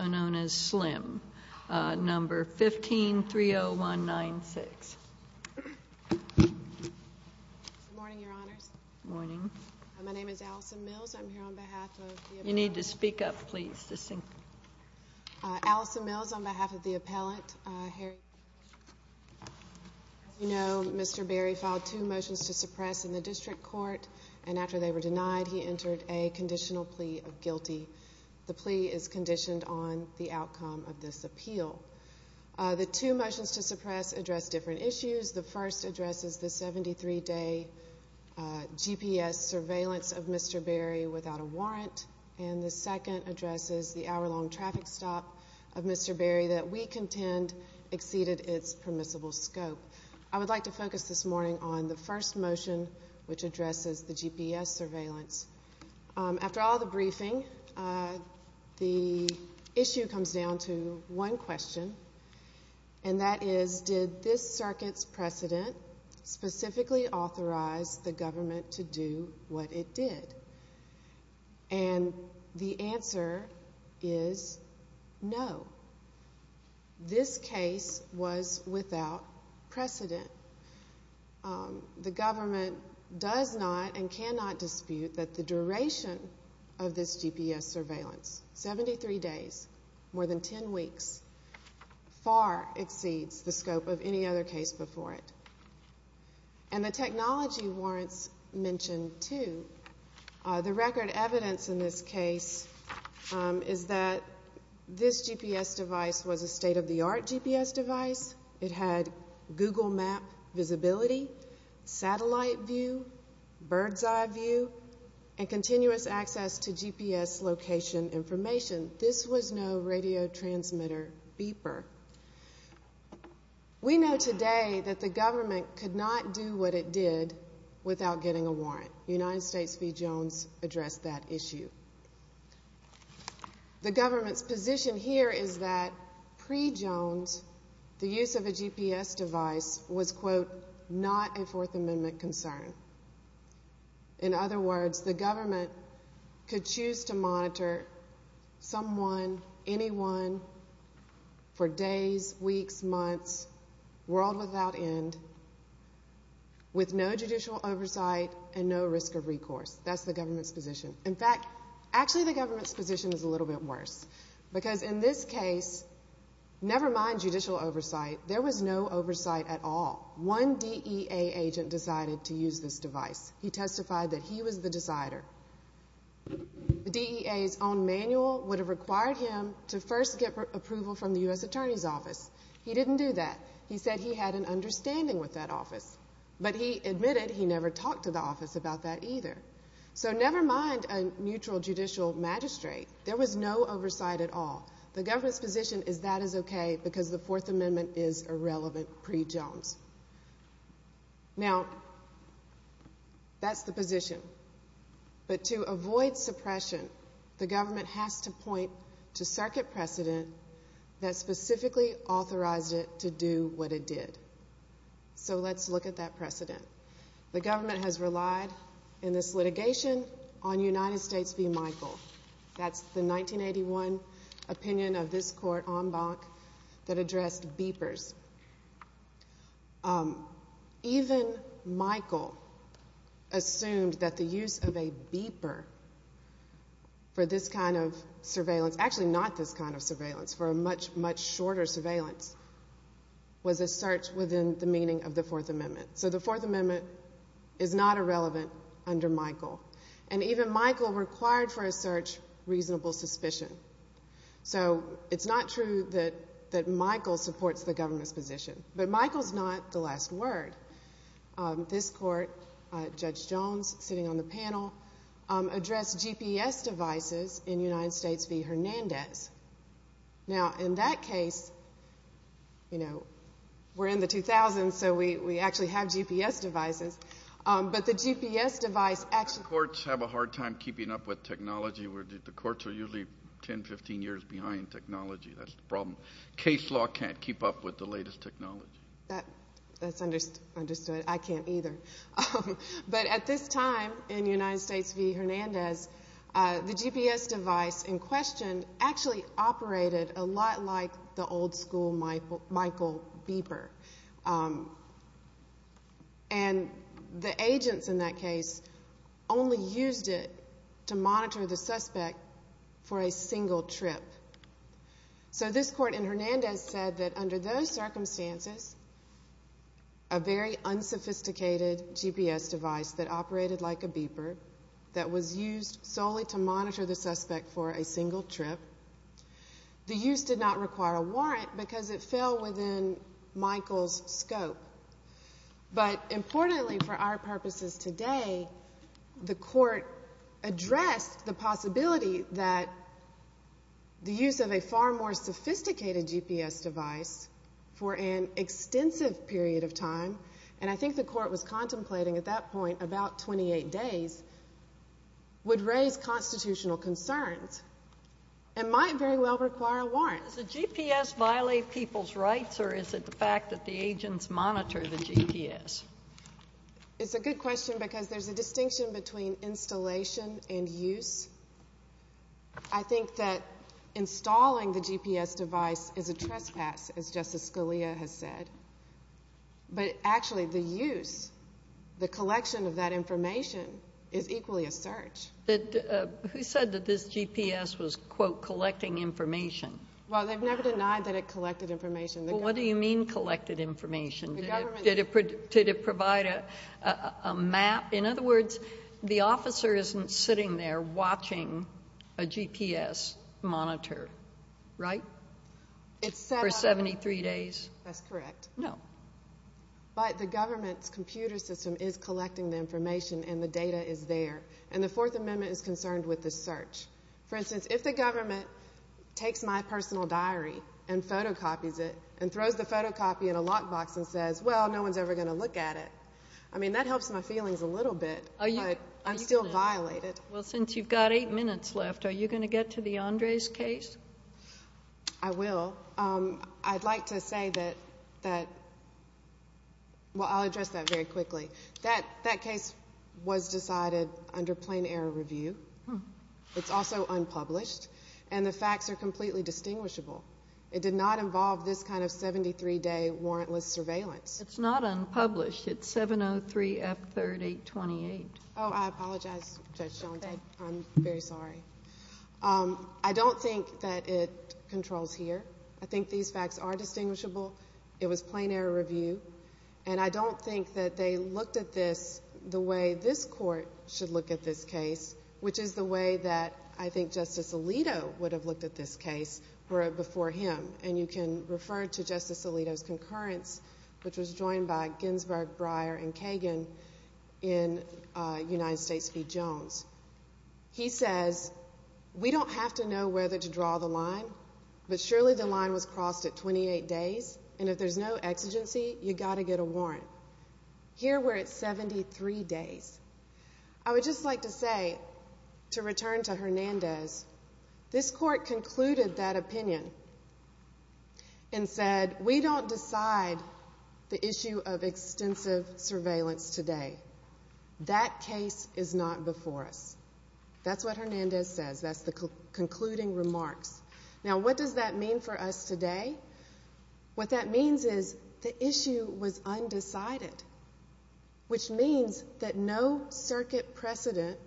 known as S.L.I.M.E. Number 1530196. Good morning, your honors. Good morning. My name is Allison Mills. I'm here on behalf of the appellant. You need to speak up, please. Allison Mills on behalf of the appellant. As you know, Mr. Berry filed two motions to suppress in the district court, and after they were denied, he entered a conditional plea of guilty. The plea is conditioned on the outcome of this appeal. The two motions to suppress address different issues. The first addresses the 73-day GPS surveillance of Mr. Berry without a warrant, and the second addresses the hour-long traffic stop of Mr. Berry that we contend exceeded its permissible scope. I would like to focus this morning on the first motion, which addresses the GPS surveillance. After all the briefing, the issue comes down to one question, and that is did this circuit's precedent specifically authorize the government to do what it did? And the answer is no. This case was without precedent. The government does not and cannot dispute that the duration of this GPS surveillance, 73 days, more than 10 weeks, far exceeds the scope of any other case before it. And the technology warrants mentioned, too. The record evidence in this case is that this GPS device was a state-of-the-art GPS device. It had Google map visibility, satellite view, bird's eye view, and continuous access to GPS location information. This was no radio transmitter beeper. We know today that the government could not do what it did without getting a warrant. United States v. Jones addressed that issue. The government's position here is that pre-Jones, the use of a GPS device was, quote, not a Fourth Amendment concern. In other words, the government could choose to monitor someone, anyone, for days, weeks, months, world without end, with no judicial oversight and no risk of recourse. That's the government's position. In fact, actually, the government's position is a little bit worse. Because in this case, never mind judicial oversight, there was no oversight at all. One DEA agent decided to use this device. He testified that he was the decider. The DEA's own manual would have required him to first get approval from the U.S. Attorney's Office. He didn't do that. He said he had an understanding with that office. But he admitted he never talked to the office about that either. So never mind a neutral judicial magistrate. There was no oversight at all. The government's position is that is okay because the Fourth Amendment is irrelevant pre-Jones. Now, that's the position. But to avoid suppression, the government has to point to circuit precedent that specifically authorized it to do what it did. So let's look at that precedent. The government has relied in this litigation on United States v. Michael. That's the 1981 opinion of this court en banc that addressed beepers. Even Michael assumed that the use of a beeper for this kind of surveillance, actually not this kind of surveillance, for a much, much shorter surveillance, was a search within the meaning of the Fourth Amendment. So the Fourth Amendment is not irrelevant under Michael. And even Michael required for a search reasonable suspicion. So it's not true that Michael supports the government's position. But Michael's not the last word. This court, Judge Jones sitting on the panel, addressed GPS devices in United States v. Hernandez. Now, in that case, you know, we're in the 2000s, so we actually have GPS devices. But the GPS device actually- Courts have a hard time keeping up with technology. The courts are usually 10, 15 years behind technology. That's the problem. Case law can't keep up with the latest technology. That's understood. I can't either. But at this time in United States v. Hernandez, the GPS device in question actually operated a lot like the old school Michael beeper. And the agents in that case only used it to monitor the suspect for a single trip. So this court in Hernandez said that under those circumstances, a very unsophisticated GPS device that operated like a beeper, that was used solely to monitor the suspect for a single trip, the use did not require a warrant because it fell within Michael's scope. But importantly for our purposes today, the court addressed the possibility that the use of a far more sophisticated GPS device for an extensive period of time, and I think the court was contemplating at that point about 28 days, would raise constitutional concerns and might very well require a warrant. Does the GPS violate people's rights or is it the fact that the agents monitor the GPS? It's a good question because there's a distinction between installation and use. I think that installing the GPS device is a trespass, as Justice Scalia has said. But actually the use, the collection of that information, is equally a search. Who said that this GPS was, quote, collecting information? Well, they've never denied that it collected information. Well, what do you mean collected information? Did it provide a map? In other words, the officer isn't sitting there watching a GPS monitor, right, for 73 days? That's correct. No. But the government's computer system is collecting the information and the data is there, and the Fourth Amendment is concerned with the search. For instance, if the government takes my personal diary and photocopies it and throws the photocopy in a lockbox and says, well, no one's ever going to look at it, I mean, that helps my feelings a little bit, but I'm still violated. Well, since you've got eight minutes left, are you going to get to the Andres case? I will. I'd like to say that, well, I'll address that very quickly. That case was decided under plain error review. It's also unpublished, and the facts are completely distinguishable. It did not involve this kind of 73-day warrantless surveillance. It's not unpublished. It's 703F3828. Oh, I apologize, Judge Jones. I'm very sorry. I don't think that it controls here. I think these facts are distinguishable. It was plain error review. And I don't think that they looked at this the way this court should look at this case, which is the way that I think Justice Alito would have looked at this case were it before him. And you can refer to Justice Alito's concurrence, which was joined by Ginsburg, Breyer, and Kagan in United States v. Jones. He says, we don't have to know whether to draw the line, but surely the line was crossed at 28 days, and if there's no exigency, you've got to get a warrant. Here we're at 73 days. I would just like to say, to return to Hernandez, this court concluded that opinion and said, we don't decide the issue of extensive surveillance today. That case is not before us. That's what Hernandez says. That's the concluding remarks. Now, what does that mean for us today? What that means is the issue was undecided, which means that no circuit precedent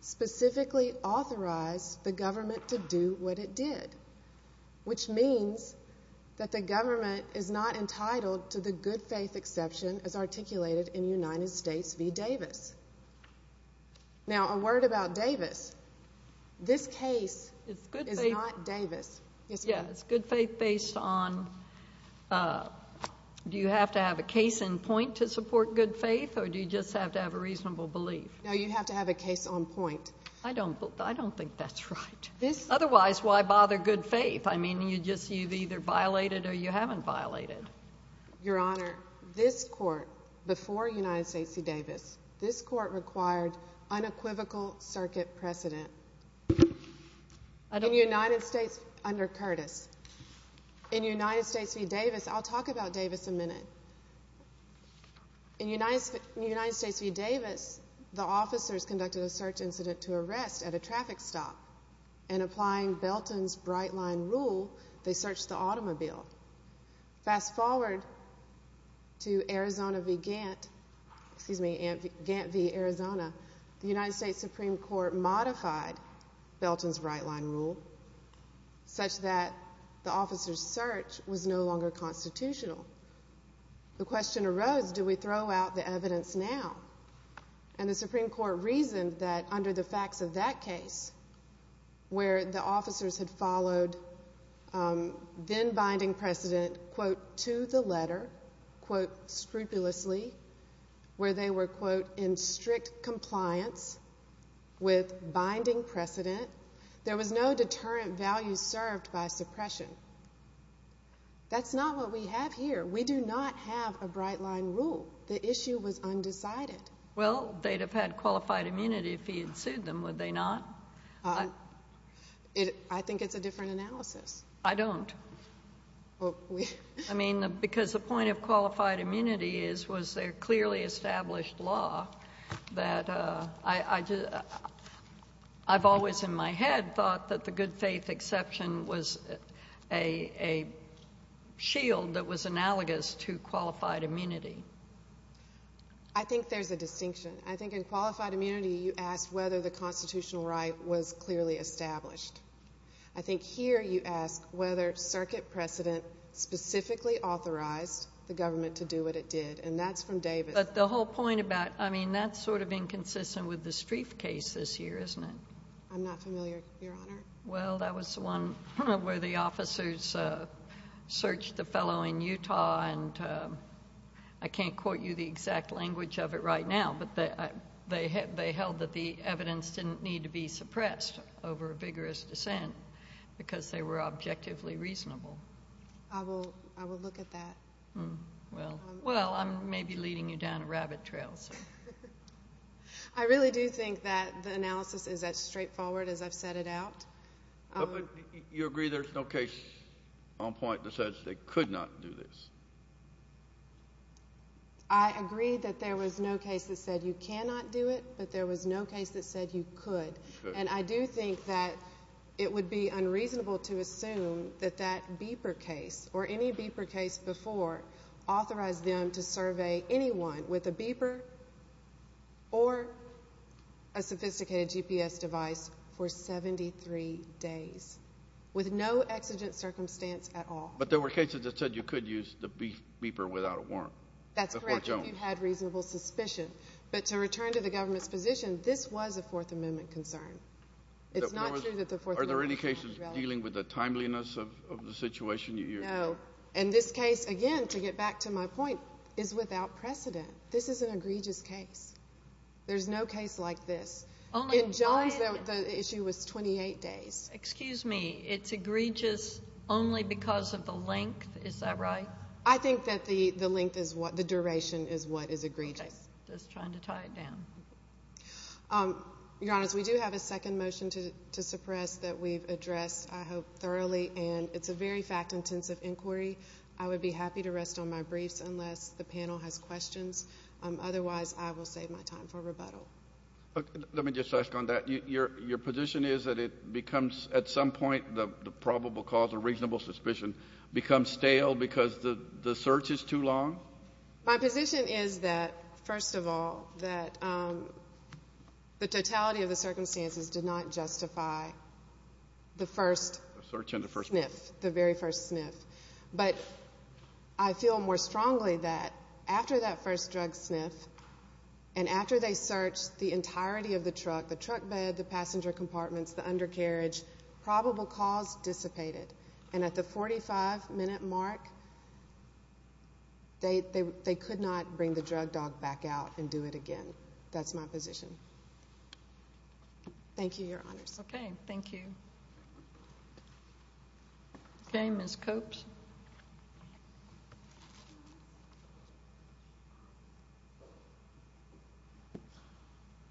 specifically authorized the government to do what it did, which means that the government is not entitled to the good faith exception as articulated in United States v. Davis. Now, a word about Davis. This case is not Davis. Yes, good faith based on, do you have to have a case in point to support good faith, or do you just have to have a reasonable belief? No, you have to have a case on point. I don't think that's right. Otherwise, why bother good faith? I mean, you've either violated or you haven't violated. Your Honor, this court, before United States v. Davis, this court required unequivocal circuit precedent. Under Curtis. In United States v. Davis, I'll talk about Davis a minute. In United States v. Davis, the officers conducted a search incident to arrest at a traffic stop, and applying Belton's bright line rule, they searched the automobile. Fast forward to Arizona v. Gantt, excuse me, Gantt v. Arizona, the United States Supreme Court modified Belton's bright line rule such that the officer's search was no longer constitutional. The question arose, do we throw out the evidence now? And the Supreme Court reasoned that under the facts of that case, where the officers had followed then binding precedent, quote, to the letter, quote, scrupulously, where they were, quote, in strict compliance with binding precedent, there was no deterrent value served by suppression. That's not what we have here. We do not have a bright line rule. The issue was undecided. Well, they'd have had qualified immunity if he had sued them, would they not? I think it's a different analysis. I don't. I mean, because the point of qualified immunity is was there clearly established law that I've always in my head thought that the good faith exception was a shield that was analogous to qualified immunity. I think there's a distinction. I think in qualified immunity you ask whether the constitutional right was clearly established. I think here you ask whether circuit precedent specifically authorized the government to do what it did, and that's from Davis. But the whole point about, I mean, that's sort of inconsistent with the Streiff case this year, isn't it? I'm not familiar, Your Honor. Well, that was the one where the officers searched the fellow in Utah, and I can't quote you the exact language of it right now, but they held that the evidence didn't need to be suppressed over a vigorous dissent because they were objectively reasonable. I will look at that. Well, I'm maybe leading you down a rabbit trail. I really do think that the analysis is as straightforward as I've set it out. But you agree there's no case on point that says they could not do this? I agree that there was no case that said you cannot do it, but there was no case that said you could. And I do think that it would be unreasonable to assume that that Beeper case or any Beeper case before authorized them to survey anyone with a Beeper or a sophisticated GPS device for 73 days with no exigent circumstance at all. But there were cases that said you could use the Beeper without a warrant? That's correct, if you had reasonable suspicion. But to return to the government's position, this was a Fourth Amendment concern. It's not true that the Fourth Amendment was relevant. Are there any cases dealing with the timeliness of the situation you hear? No. And this case, again, to get back to my point, is without precedent. This is an egregious case. There's no case like this. In Jones, the issue was 28 days. Excuse me. It's egregious only because of the length? Is that right? I think that the length is what the duration is what is egregious. Just trying to tie it down. Your Honors, we do have a second motion to suppress that we've addressed, I hope, thoroughly, and it's a very fact-intensive inquiry. I would be happy to rest on my briefs unless the panel has questions. Otherwise, I will save my time for rebuttal. Let me just ask on that. Your position is that it becomes, at some point, the probable cause or reasonable suspicion becomes stale because the search is too long? My position is that, first of all, that the totality of the circumstances did not justify the first sniff, the very first sniff. But I feel more strongly that after that first drug sniff and after they searched the entirety of the truck, the truck bed, the passenger compartments, the undercarriage, probable cause dissipated. And at the 45-minute mark, they could not bring the drug dog back out and do it again. That's my position. Thank you, Your Honors. Okay. Thank you. Okay, Ms. Copes.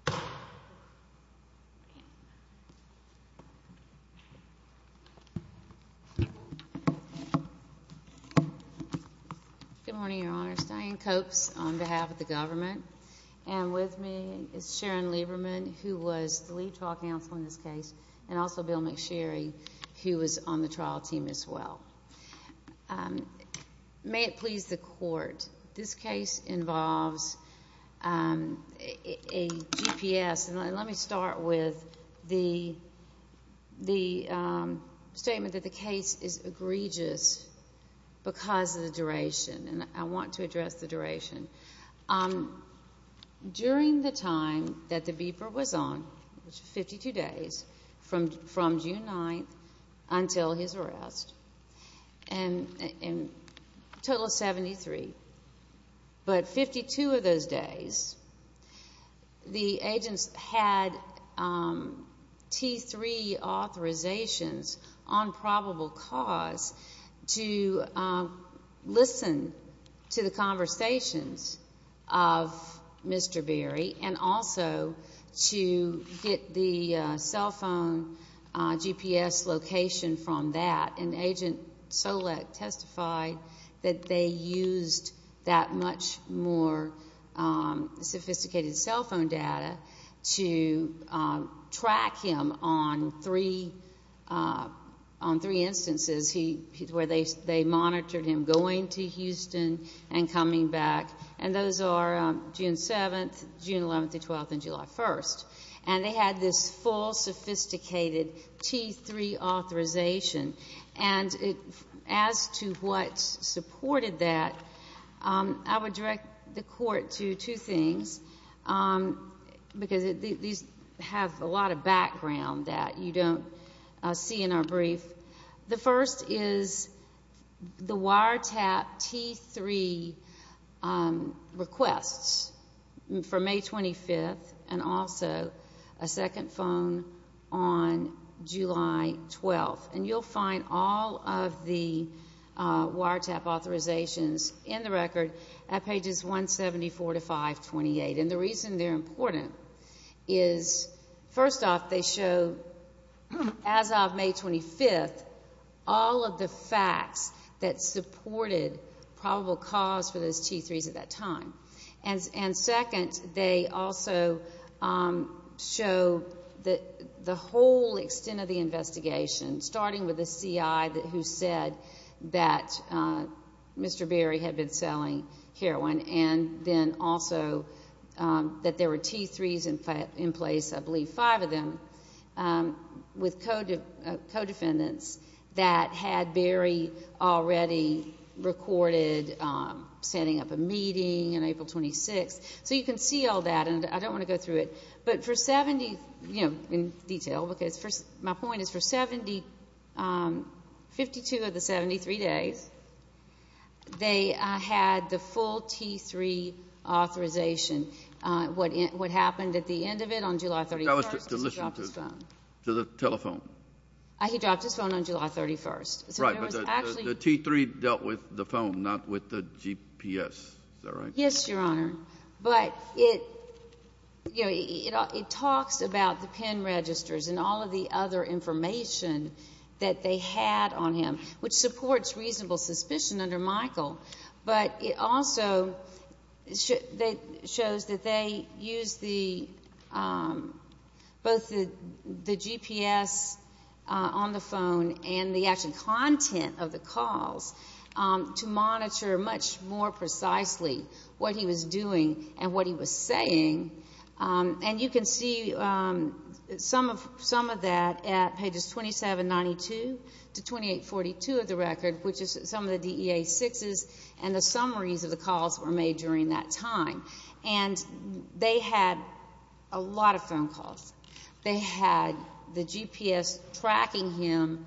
Good morning, Your Honors. Diane Copes on behalf of the government. And with me is Sharon Lieberman, who was the lead trial counsel in this case, and also Bill McSherry, who was on the trial team as well. May it please the Court, this case involves a GPS. And let me start with the statement that the case is egregious because of the duration. And I want to address the duration. During the time that the beeper was on, 52 days, from June 9th until his arrest, and a total of 73. But 52 of those days, the agents had T3 authorizations on probable cause to listen to the conversations of Mr. Berry and also to get the cell phone GPS location from that. And Agent Solek testified that they used that much more sophisticated cell phone data to track him on three instances where they monitored him going to Houston and coming back. And those are June 7th, June 11th, and 12th, and July 1st. And they had this full, sophisticated T3 authorization. And as to what supported that, I would direct the Court to two things, because these have a lot of background that you don't see in our brief. The first is the wiretap T3 requests for May 25th and also a second phone on July 12th. And you'll find all of the wiretap authorizations in the record at pages 174 to 528. And the reason they're important is, first off, they show, as of May 25th, all of the facts that supported probable cause for those T3s at that time. And second, they also show the whole extent of the investigation, starting with the CI who said that Mr. Berry had been selling heroin and then also that there were T3s in place, I believe five of them, with co-defendants that had Berry already recorded setting up a meeting on April 26th. So you can see all that, and I don't want to go through it. But for 70, you know, in detail, because my point is for 52 of the 73 days, they had the full T3 authorization. What happened at the end of it on July 31st was he dropped his phone. That was to listen to the telephone. He dropped his phone on July 31st. Right, but the T3 dealt with the phone, not with the GPS. Is that right? Yes, Your Honor. But, you know, it talks about the PIN registers and all of the other information that they had on him, which supports reasonable suspicion under Michael. But it also shows that they used both the GPS on the phone and the actual content of the calls to monitor much more precisely what he was doing and what he was saying. And you can see some of that at pages 2792 to 2842 of the record, which is some of the DEA sixes and the summaries of the calls that were made during that time. And they had a lot of phone calls. They had the GPS tracking him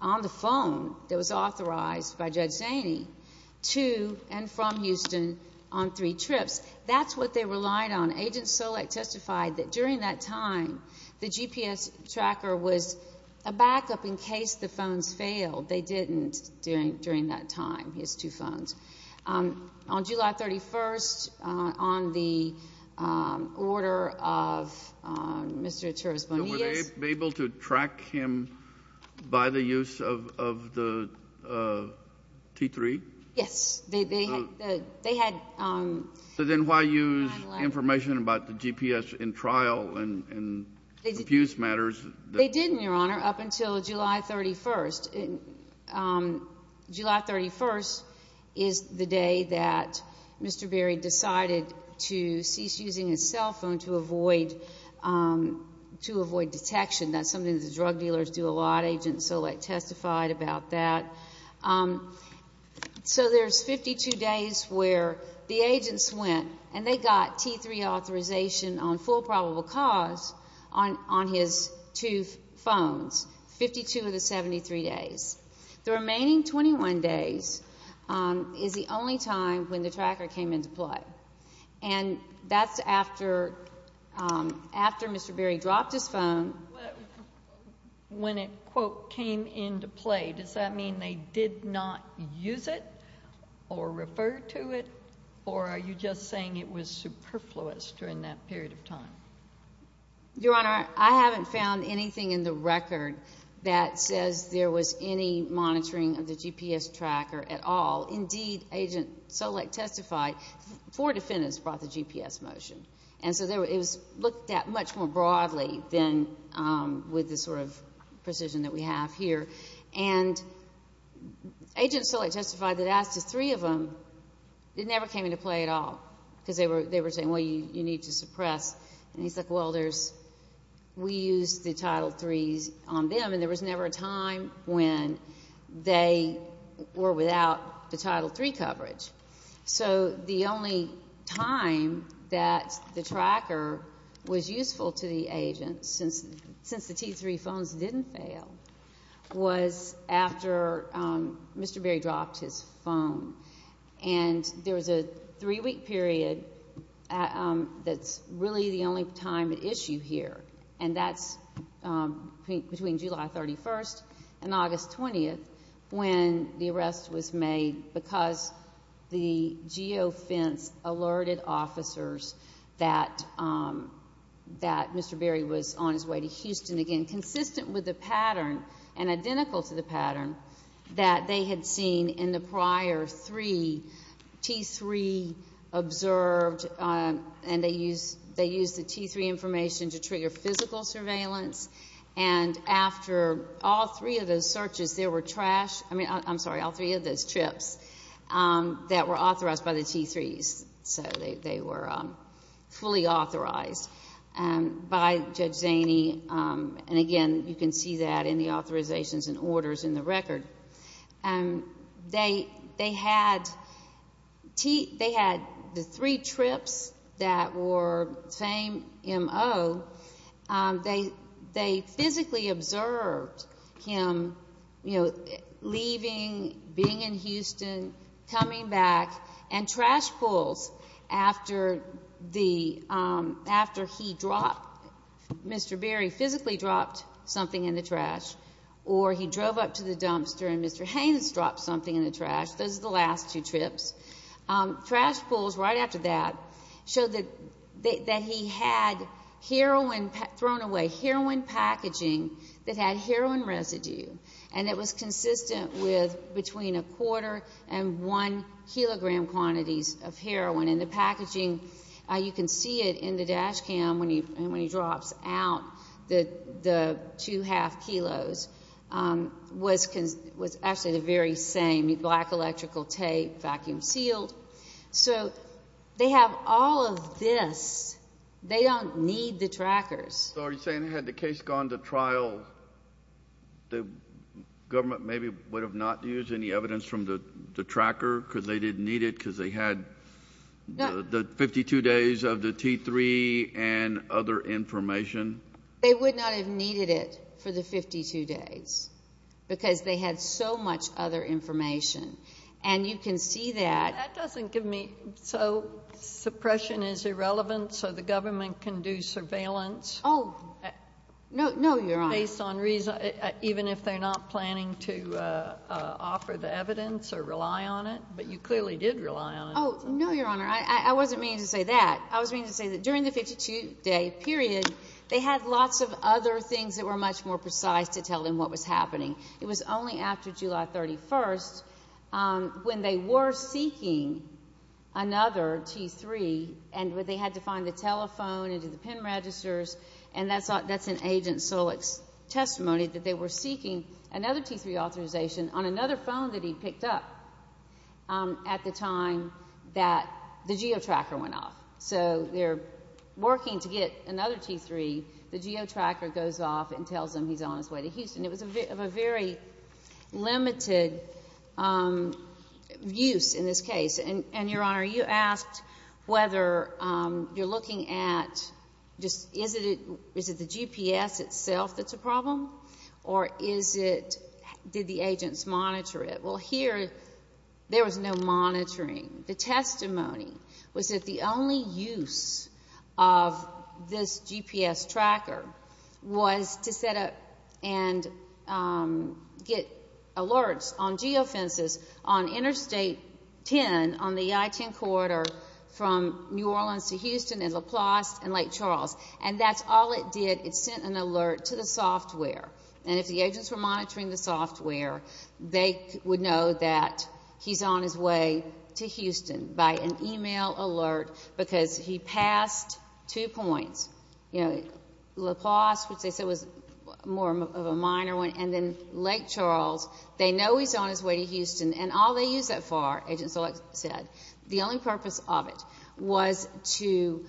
on the phone that was authorized by Judge Zaney to and from Houston on three trips. That's what they relied on. Agent Solek testified that during that time the GPS tracker was a backup in case the phones failed. They didn't during that time, his two phones. On July 31st, on the order of Mr. Echervis Bonilla's. Were they able to track him by the use of the T3? Yes. They had. So then why use information about the GPS in trial and abuse matters? They didn't, Your Honor, up until July 31st. July 31st is the day that Mr. Berry decided to cease using his cell phone to avoid detection. That's something that the drug dealers do a lot. Agent Solek testified about that. So there's 52 days where the agents went and they got T3 authorization on full probable cause on his two phones, 52 of the 73 days. The remaining 21 days is the only time when the tracker came into play. And that's after Mr. Berry dropped his phone. When it, quote, came into play, does that mean they did not use it or refer to it, or are you just saying it was superfluous during that period of time? Your Honor, I haven't found anything in the record that says there was any monitoring of the GPS tracker at all. Indeed, Agent Solek testified, four defendants brought the GPS motion. And so it was looked at much more broadly than with the sort of precision that we have here. And Agent Solek testified that as to three of them, it never came into play at all because they were saying, well, you need to suppress. And he's like, well, there's, we used the Title III on them and there was never a time when they were without the Title III coverage. So the only time that the tracker was useful to the agents, since the T3 phones didn't fail, was after Mr. Berry dropped his phone. And there was a three-week period that's really the only time at issue here, and that's between July 31st and August 20th when the arrest was made because the geofence alerted officers that Mr. Berry was on his way to Houston again, consistent with the pattern and identical to the pattern that they had seen in the prior three. The T3 observed and they used the T3 information to trigger physical surveillance. And after all three of those searches, there were trash, I mean, I'm sorry, all three of those trips that were authorized by the T3s. So they were fully authorized by Judge Zaney. And, again, you can see that in the authorizations and orders in the record. They had the three trips that were same MO. They physically observed him, you know, leaving, being in Houston, coming back, and trash pulls after he dropped, Mr. Berry physically dropped something in the trash or he drove up to the dumpster and Mr. Haynes dropped something in the trash. Those are the last two trips. Trash pulls right after that showed that he had heroin thrown away, heroin packaging that had heroin residue, and it was consistent with between a quarter and one-kilogram quantities of heroin. And the packaging, you can see it in the dash cam when he drops out the two-half kilos, was actually the very same, black electrical tape, vacuum sealed. So they have all of this. They don't need the trackers. So are you saying had the case gone to trial, the government maybe would have not used any evidence from the tracker because they didn't need it because they had the 52 days of the T3 and other information? They would not have needed it for the 52 days because they had so much other information. And you can see that. That doesn't give me. So suppression is irrelevant so the government can do surveillance? Oh, no, Your Honor. Even if they're not planning to offer the evidence or rely on it? But you clearly did rely on it. Oh, no, Your Honor. I wasn't meaning to say that. I was meaning to say that during the 52-day period, they had lots of other things that were much more precise to tell them what was happening. It was only after July 31st when they were seeking another T3 and they had to find the telephone and do the PIN registers, and that's in Agent Solek's testimony that they were seeking another T3 authorization on another phone that he picked up at the time that the geotracker went off. So they're working to get another T3. The geotracker goes off and tells them he's on his way to Houston. It was of a very limited use in this case. And, Your Honor, you asked whether you're looking at just is it the GPS itself that's a problem or is it did the agents monitor it? Well, here there was no monitoring. The testimony was that the only use of this GPS tracker was to set up and get alerts on geofences on Interstate 10 on the I-10 corridor from New Orleans to Houston and Laplace and Lake Charles. And that's all it did. It sent an alert to the software. And if the agents were monitoring the software, they would know that he's on his way to Houston by an email alert because he passed two points. You know, Laplace, which they said was more of a minor one, and then Lake Charles, they know he's on his way to Houston, and all they used that for, agents said, the only purpose of it was to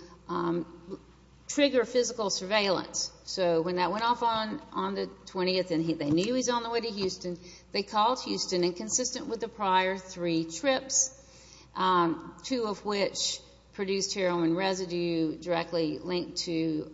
trigger physical surveillance. So when that went off on the 20th and they knew he was on the way to Houston, they called Houston, and consistent with the prior three trips, two of which produced heroin residue directly linked to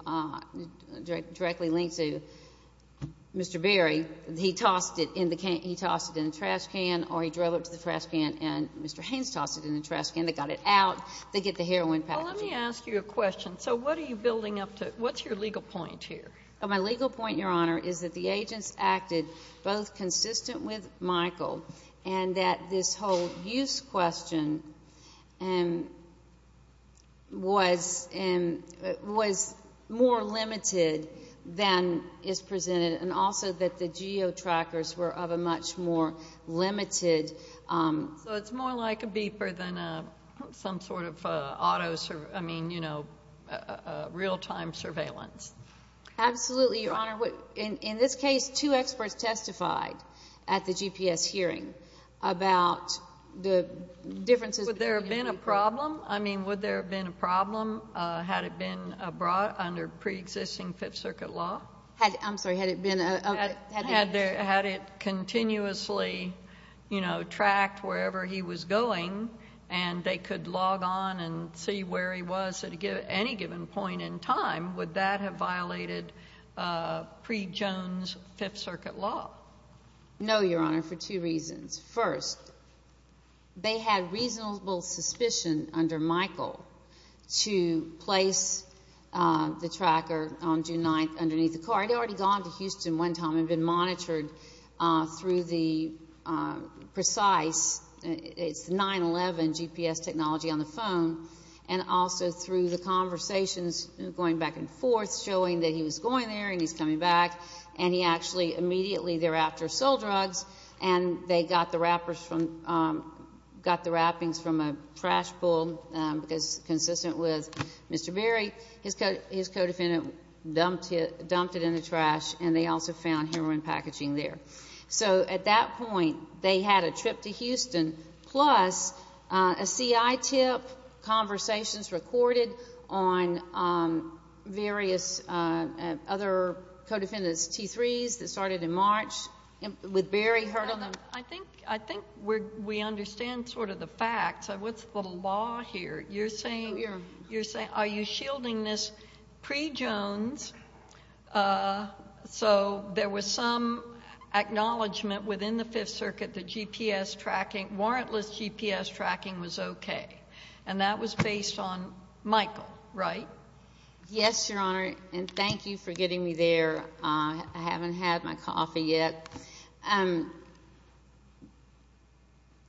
Mr. Berry, he tossed it in the trash can or he drove it to the trash can and Mr. Haynes tossed it in the trash can. They got it out. They get the heroin package. Well, let me ask you a question. So what are you building up to? What's your legal point here? My legal point, Your Honor, is that the agents acted both consistent with Michael and that this whole use question was more limited than is presented and also that the geotrackers were of a much more limited... So it's more like a beeper than some sort of real-time surveillance. Absolutely, Your Honor. In this case, two experts testified at the GPS hearing about the differences... Would there have been a problem? I mean, would there have been a problem had it been brought under preexisting Fifth Circuit law? I'm sorry. Had it been... Had it continuously tracked wherever he was going and they could log on and see where he was at any given point in time, would that have violated pre-Jones Fifth Circuit law? No, Your Honor, for two reasons. First, they had reasonable suspicion under Michael to place the tracker on June 9th underneath the car. It had already gone to Houston one time and been monitored through the precise... It's the 9-11 GPS technology on the phone and also through the conversations going back and forth showing that he was going there and he's coming back and he actually immediately thereafter sold drugs and they got the wrappings from a trash pull consistent with Mr. Berry. His co-defendant dumped it in the trash and they also found heroin packaging there. So at that point, they had a trip to Houston plus a CI tip, conversations recorded on various other co-defendants' T3s that started in March with Berry heard on them. I think we understand sort of the facts of what's the law here. We are. There was an acknowledgment within the Fifth Circuit that GPS tracking, warrantless GPS tracking was okay, and that was based on Michael, right? Yes, Your Honor, and thank you for getting me there. I haven't had my coffee yet. The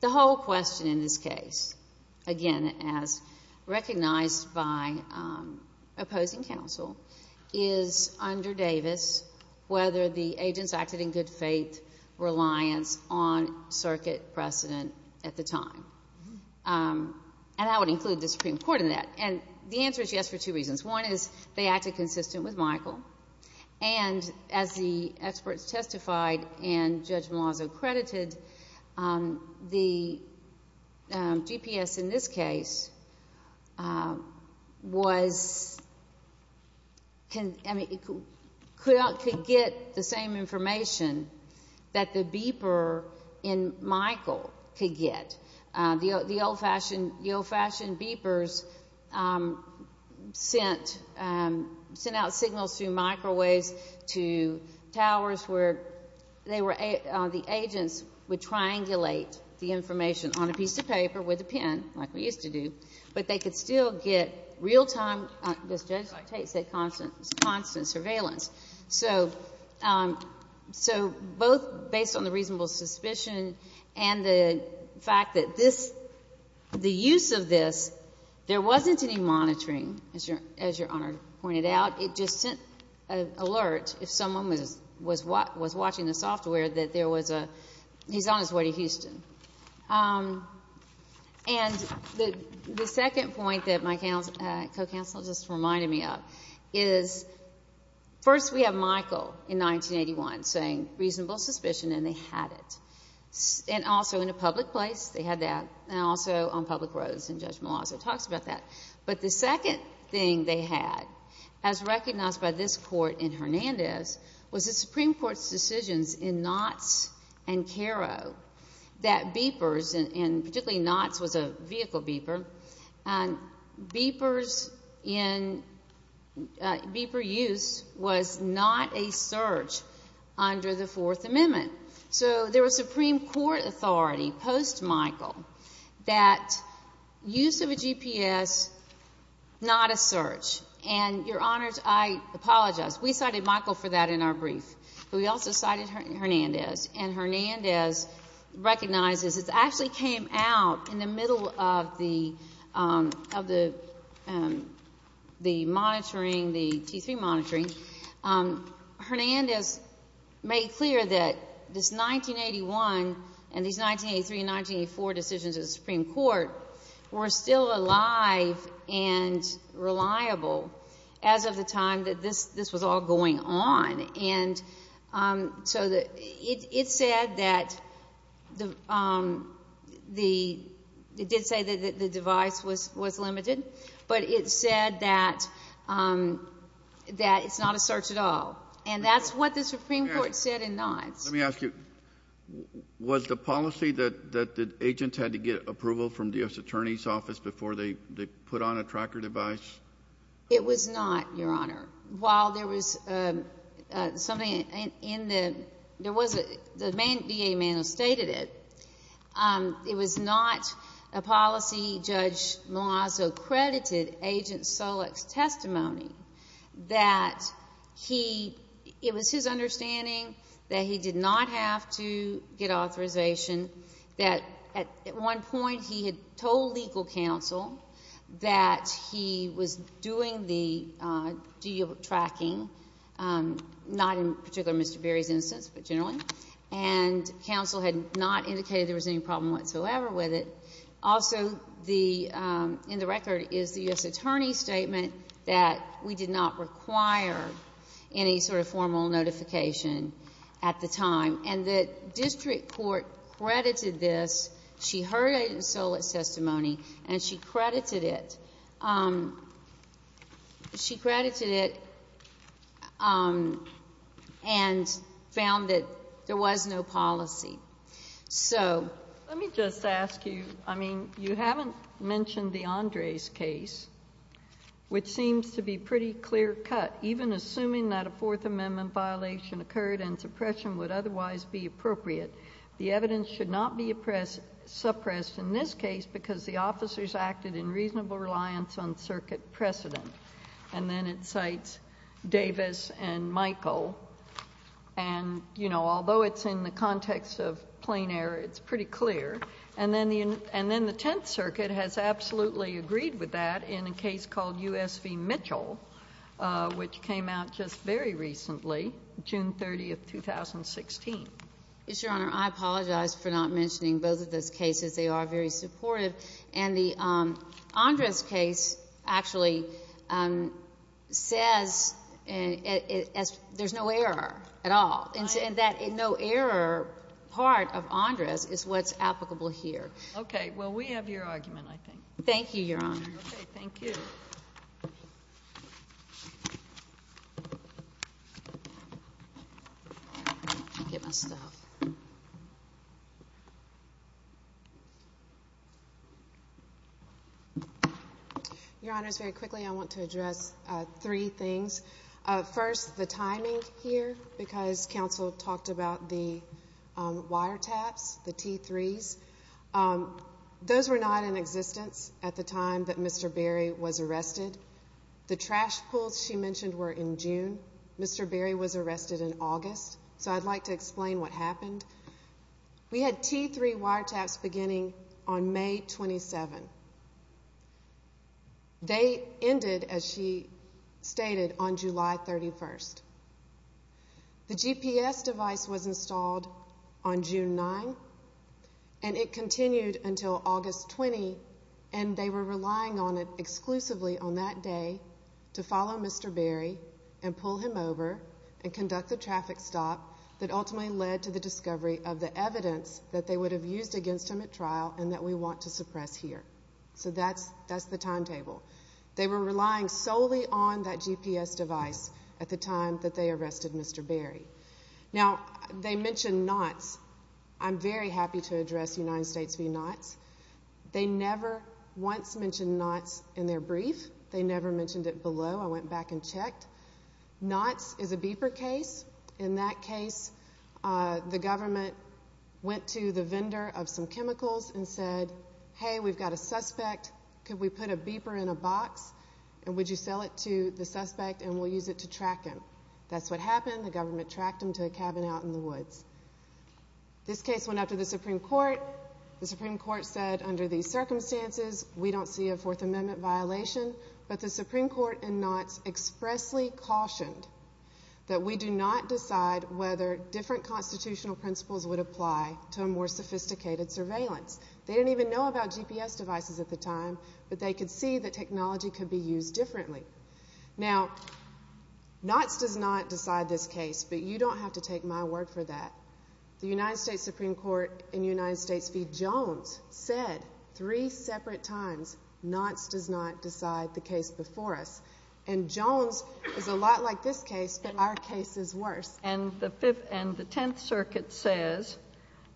whole question in this case, again, as recognized by opposing counsel, is under Davis whether the agents acted in good faith reliance on circuit precedent at the time, and I would include the Supreme Court in that, and the answer is yes for two reasons. One is they acted consistent with Michael, and as the experts testified and Judge Malazzo credited, the GPS in this case could get the same information that the beeper in Michael could get. The old-fashioned beepers sent out signals through microwaves to towers where the agents would triangulate the information on a piece of paper with a pen, like we used to do, but they could still get real-time, as Judge Tate said, constant surveillance. So both based on the reasonable suspicion and the fact that this, the use of this, there wasn't any monitoring, as Your Honor pointed out. It just sent an alert if someone was watching the software that there was a, he's on his way to Houston. And the second point that my co-counsel just reminded me of is first we have Michael in 1981 saying reasonable suspicion, and they had it, and also in a public place they had that, and also on public roads, and Judge Malazzo talks about that. But the second thing they had, as recognized by this Court in Hernandez, was the Supreme Court's decisions in Knotts and Caro that beepers, and particularly Knotts was a vehicle beeper, and beepers in, beeper use was not a search under the Fourth Amendment. So there was Supreme Court authority post-Michael that use of a GPS not a search. And, Your Honors, I apologize. We cited Michael for that in our brief, but we also cited Hernandez, and Hernandez recognizes it actually came out in the middle of the monitoring, the T3 monitoring. Hernandez made clear that this 1981 and these 1983 and 1984 decisions of the Supreme Court were still alive and reliable as of the time that this was all going on, and so it said that the, it did say that the device was limited, but it said that it's not a search at all. And that's what the Supreme Court said in Knotts. Let me ask you, was the policy that the agents had to get approval from the U.S. Attorney's Office before they put on a tracker device? It was not, Your Honor. While there was something in the, there was a, the DA Mano stated it. It was not a policy. Judge Malazzo credited Agent Solek's testimony that he, it was his understanding that he did not have to get authorization, that at one point he had told legal counsel that he was doing the geo-tracking, not in particular Mr. Berry's instance, but generally, and counsel had not indicated there was any problem whatsoever with it. Also, the, in the record is the U.S. Attorney's statement that we did not require any sort of formal notification at the time, and the district court credited this. She heard Agent Solek's testimony, and she credited it. She credited it and found that there was no policy. So. Let me just ask you, I mean, you haven't mentioned the Andres case, which seems to be pretty clear cut, even assuming that a Fourth Amendment violation occurred and suppression would otherwise be appropriate. The evidence should not be suppressed in this case because the officers acted in reasonable reliance on circuit precedent. And then it cites Davis and Michael, and, you know, although it's in the context of plain error, it's pretty clear. And then the Tenth Circuit has absolutely agreed with that in a case called U.S. v. Mitchell, which came out just very recently, June 30th, 2016. Yes, Your Honor. I apologize for not mentioning both of those cases. They are very supportive. And the Andres case actually says there's no error at all. Right. And that no error part of Andres is what's applicable here. Okay. Well, we have your argument, I think. Thank you, Your Honor. Okay. Thank you. Your Honors, very quickly, I want to address three things. First, the timing here, because counsel talked about the wiretaps, the T3s. Those were not in existence at the time that Mr. Berry was arrested. The trash pulls she mentioned were in June. Mr. Berry was arrested in August. So I'd like to explain what happened. We had T3 wiretaps beginning on May 27th. They ended, as she stated, on July 31st. The GPS device was installed on June 9th, and it continued until August 20th, and they were relying on it exclusively on that day to follow Mr. Berry and pull him over and conduct the traffic stop that ultimately led to the discovery of the evidence that they would have used against him at trial and that we want to suppress here. So that's the timetable. They were relying solely on that GPS device at the time that they arrested Mr. Berry. Now, they mentioned Knott's. I'm very happy to address United States v. Knott's. They never once mentioned Knott's in their brief. They never mentioned it below. I went back and checked. Knott's is a beeper case. In that case, the government went to the vendor of some chemicals and said, Hey, we've got a suspect. Could we put a beeper in a box, and would you sell it to the suspect, and we'll use it to track him? That's what happened. The government tracked him to a cabin out in the woods. This case went up to the Supreme Court. The Supreme Court said, Under these circumstances, we don't see a Fourth Amendment violation. But the Supreme Court in Knott's expressly cautioned that we do not decide whether different constitutional principles would apply to a more sophisticated surveillance. They didn't even know about GPS devices at the time, but they could see that technology could be used differently. Now, Knott's does not decide this case, but you don't have to take my word for that. The United States Supreme Court in United States v. Jones said three separate times, Knott's does not decide the case before us. And Jones is a lot like this case, but our case is worse. And the Tenth Circuit says,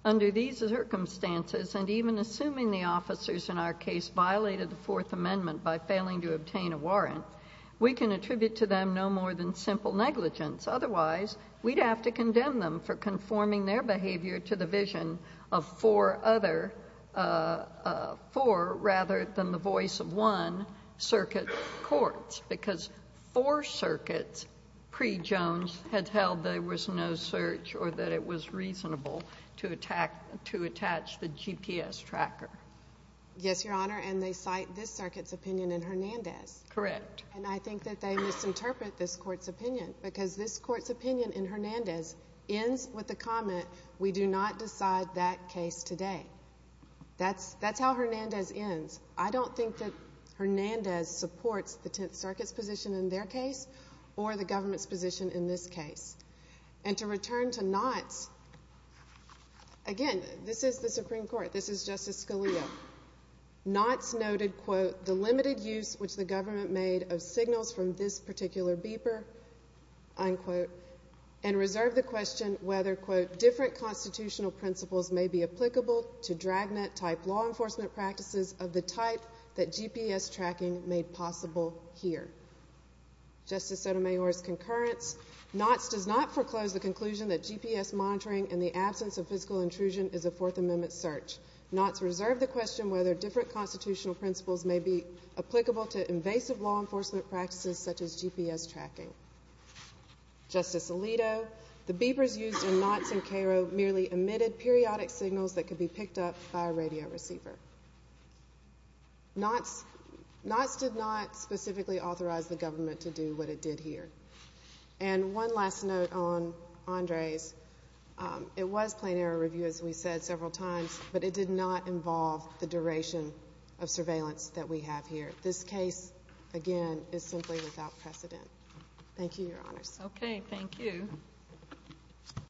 Under these circumstances, and even assuming the officers in our case violated the Fourth Amendment by failing to obtain a warrant, we can attribute to them no more than simple negligence. Otherwise, we'd have to condemn them for conforming their behavior to the vision of four other — four rather than the voice of one circuit courts, because four circuits pre-Jones had held there was no search or that it was reasonable to attach the GPS tracker. Yes, Your Honor, and they cite this circuit's opinion in Hernandez. Correct. And I think that they misinterpret this court's opinion, because this court's opinion in Hernandez ends with the comment, We do not decide that case today. That's how Hernandez ends. I don't think that Hernandez supports the Tenth Circuit's position in their case or the government's position in this case. And to return to Knott's, again, this is the Supreme Court. This is Justice Scalia. Knott's noted, quote, unquote, unquote, Justice Sotomayor's concurrence, Knott's does not foreclose the conclusion that GPS monitoring in the absence of physical intrusion is a Fourth Amendment search. Knott's reserved the question whether different constitutional principles may be applicable to invasive law enforcement practices such as GPS tracking. Justice Alito, the beepers used in Knott's and Cairo merely emitted periodic signals that could be picked up by a radio receiver. Knott's did not specifically authorize the government to do what it did here. And one last note on Andres. It was plain error review, as we said several times, but it did not involve the duration of surveillance that we have here. This case, again, is simply without precedent. Thank you, Your Honors. Okay. Thank you.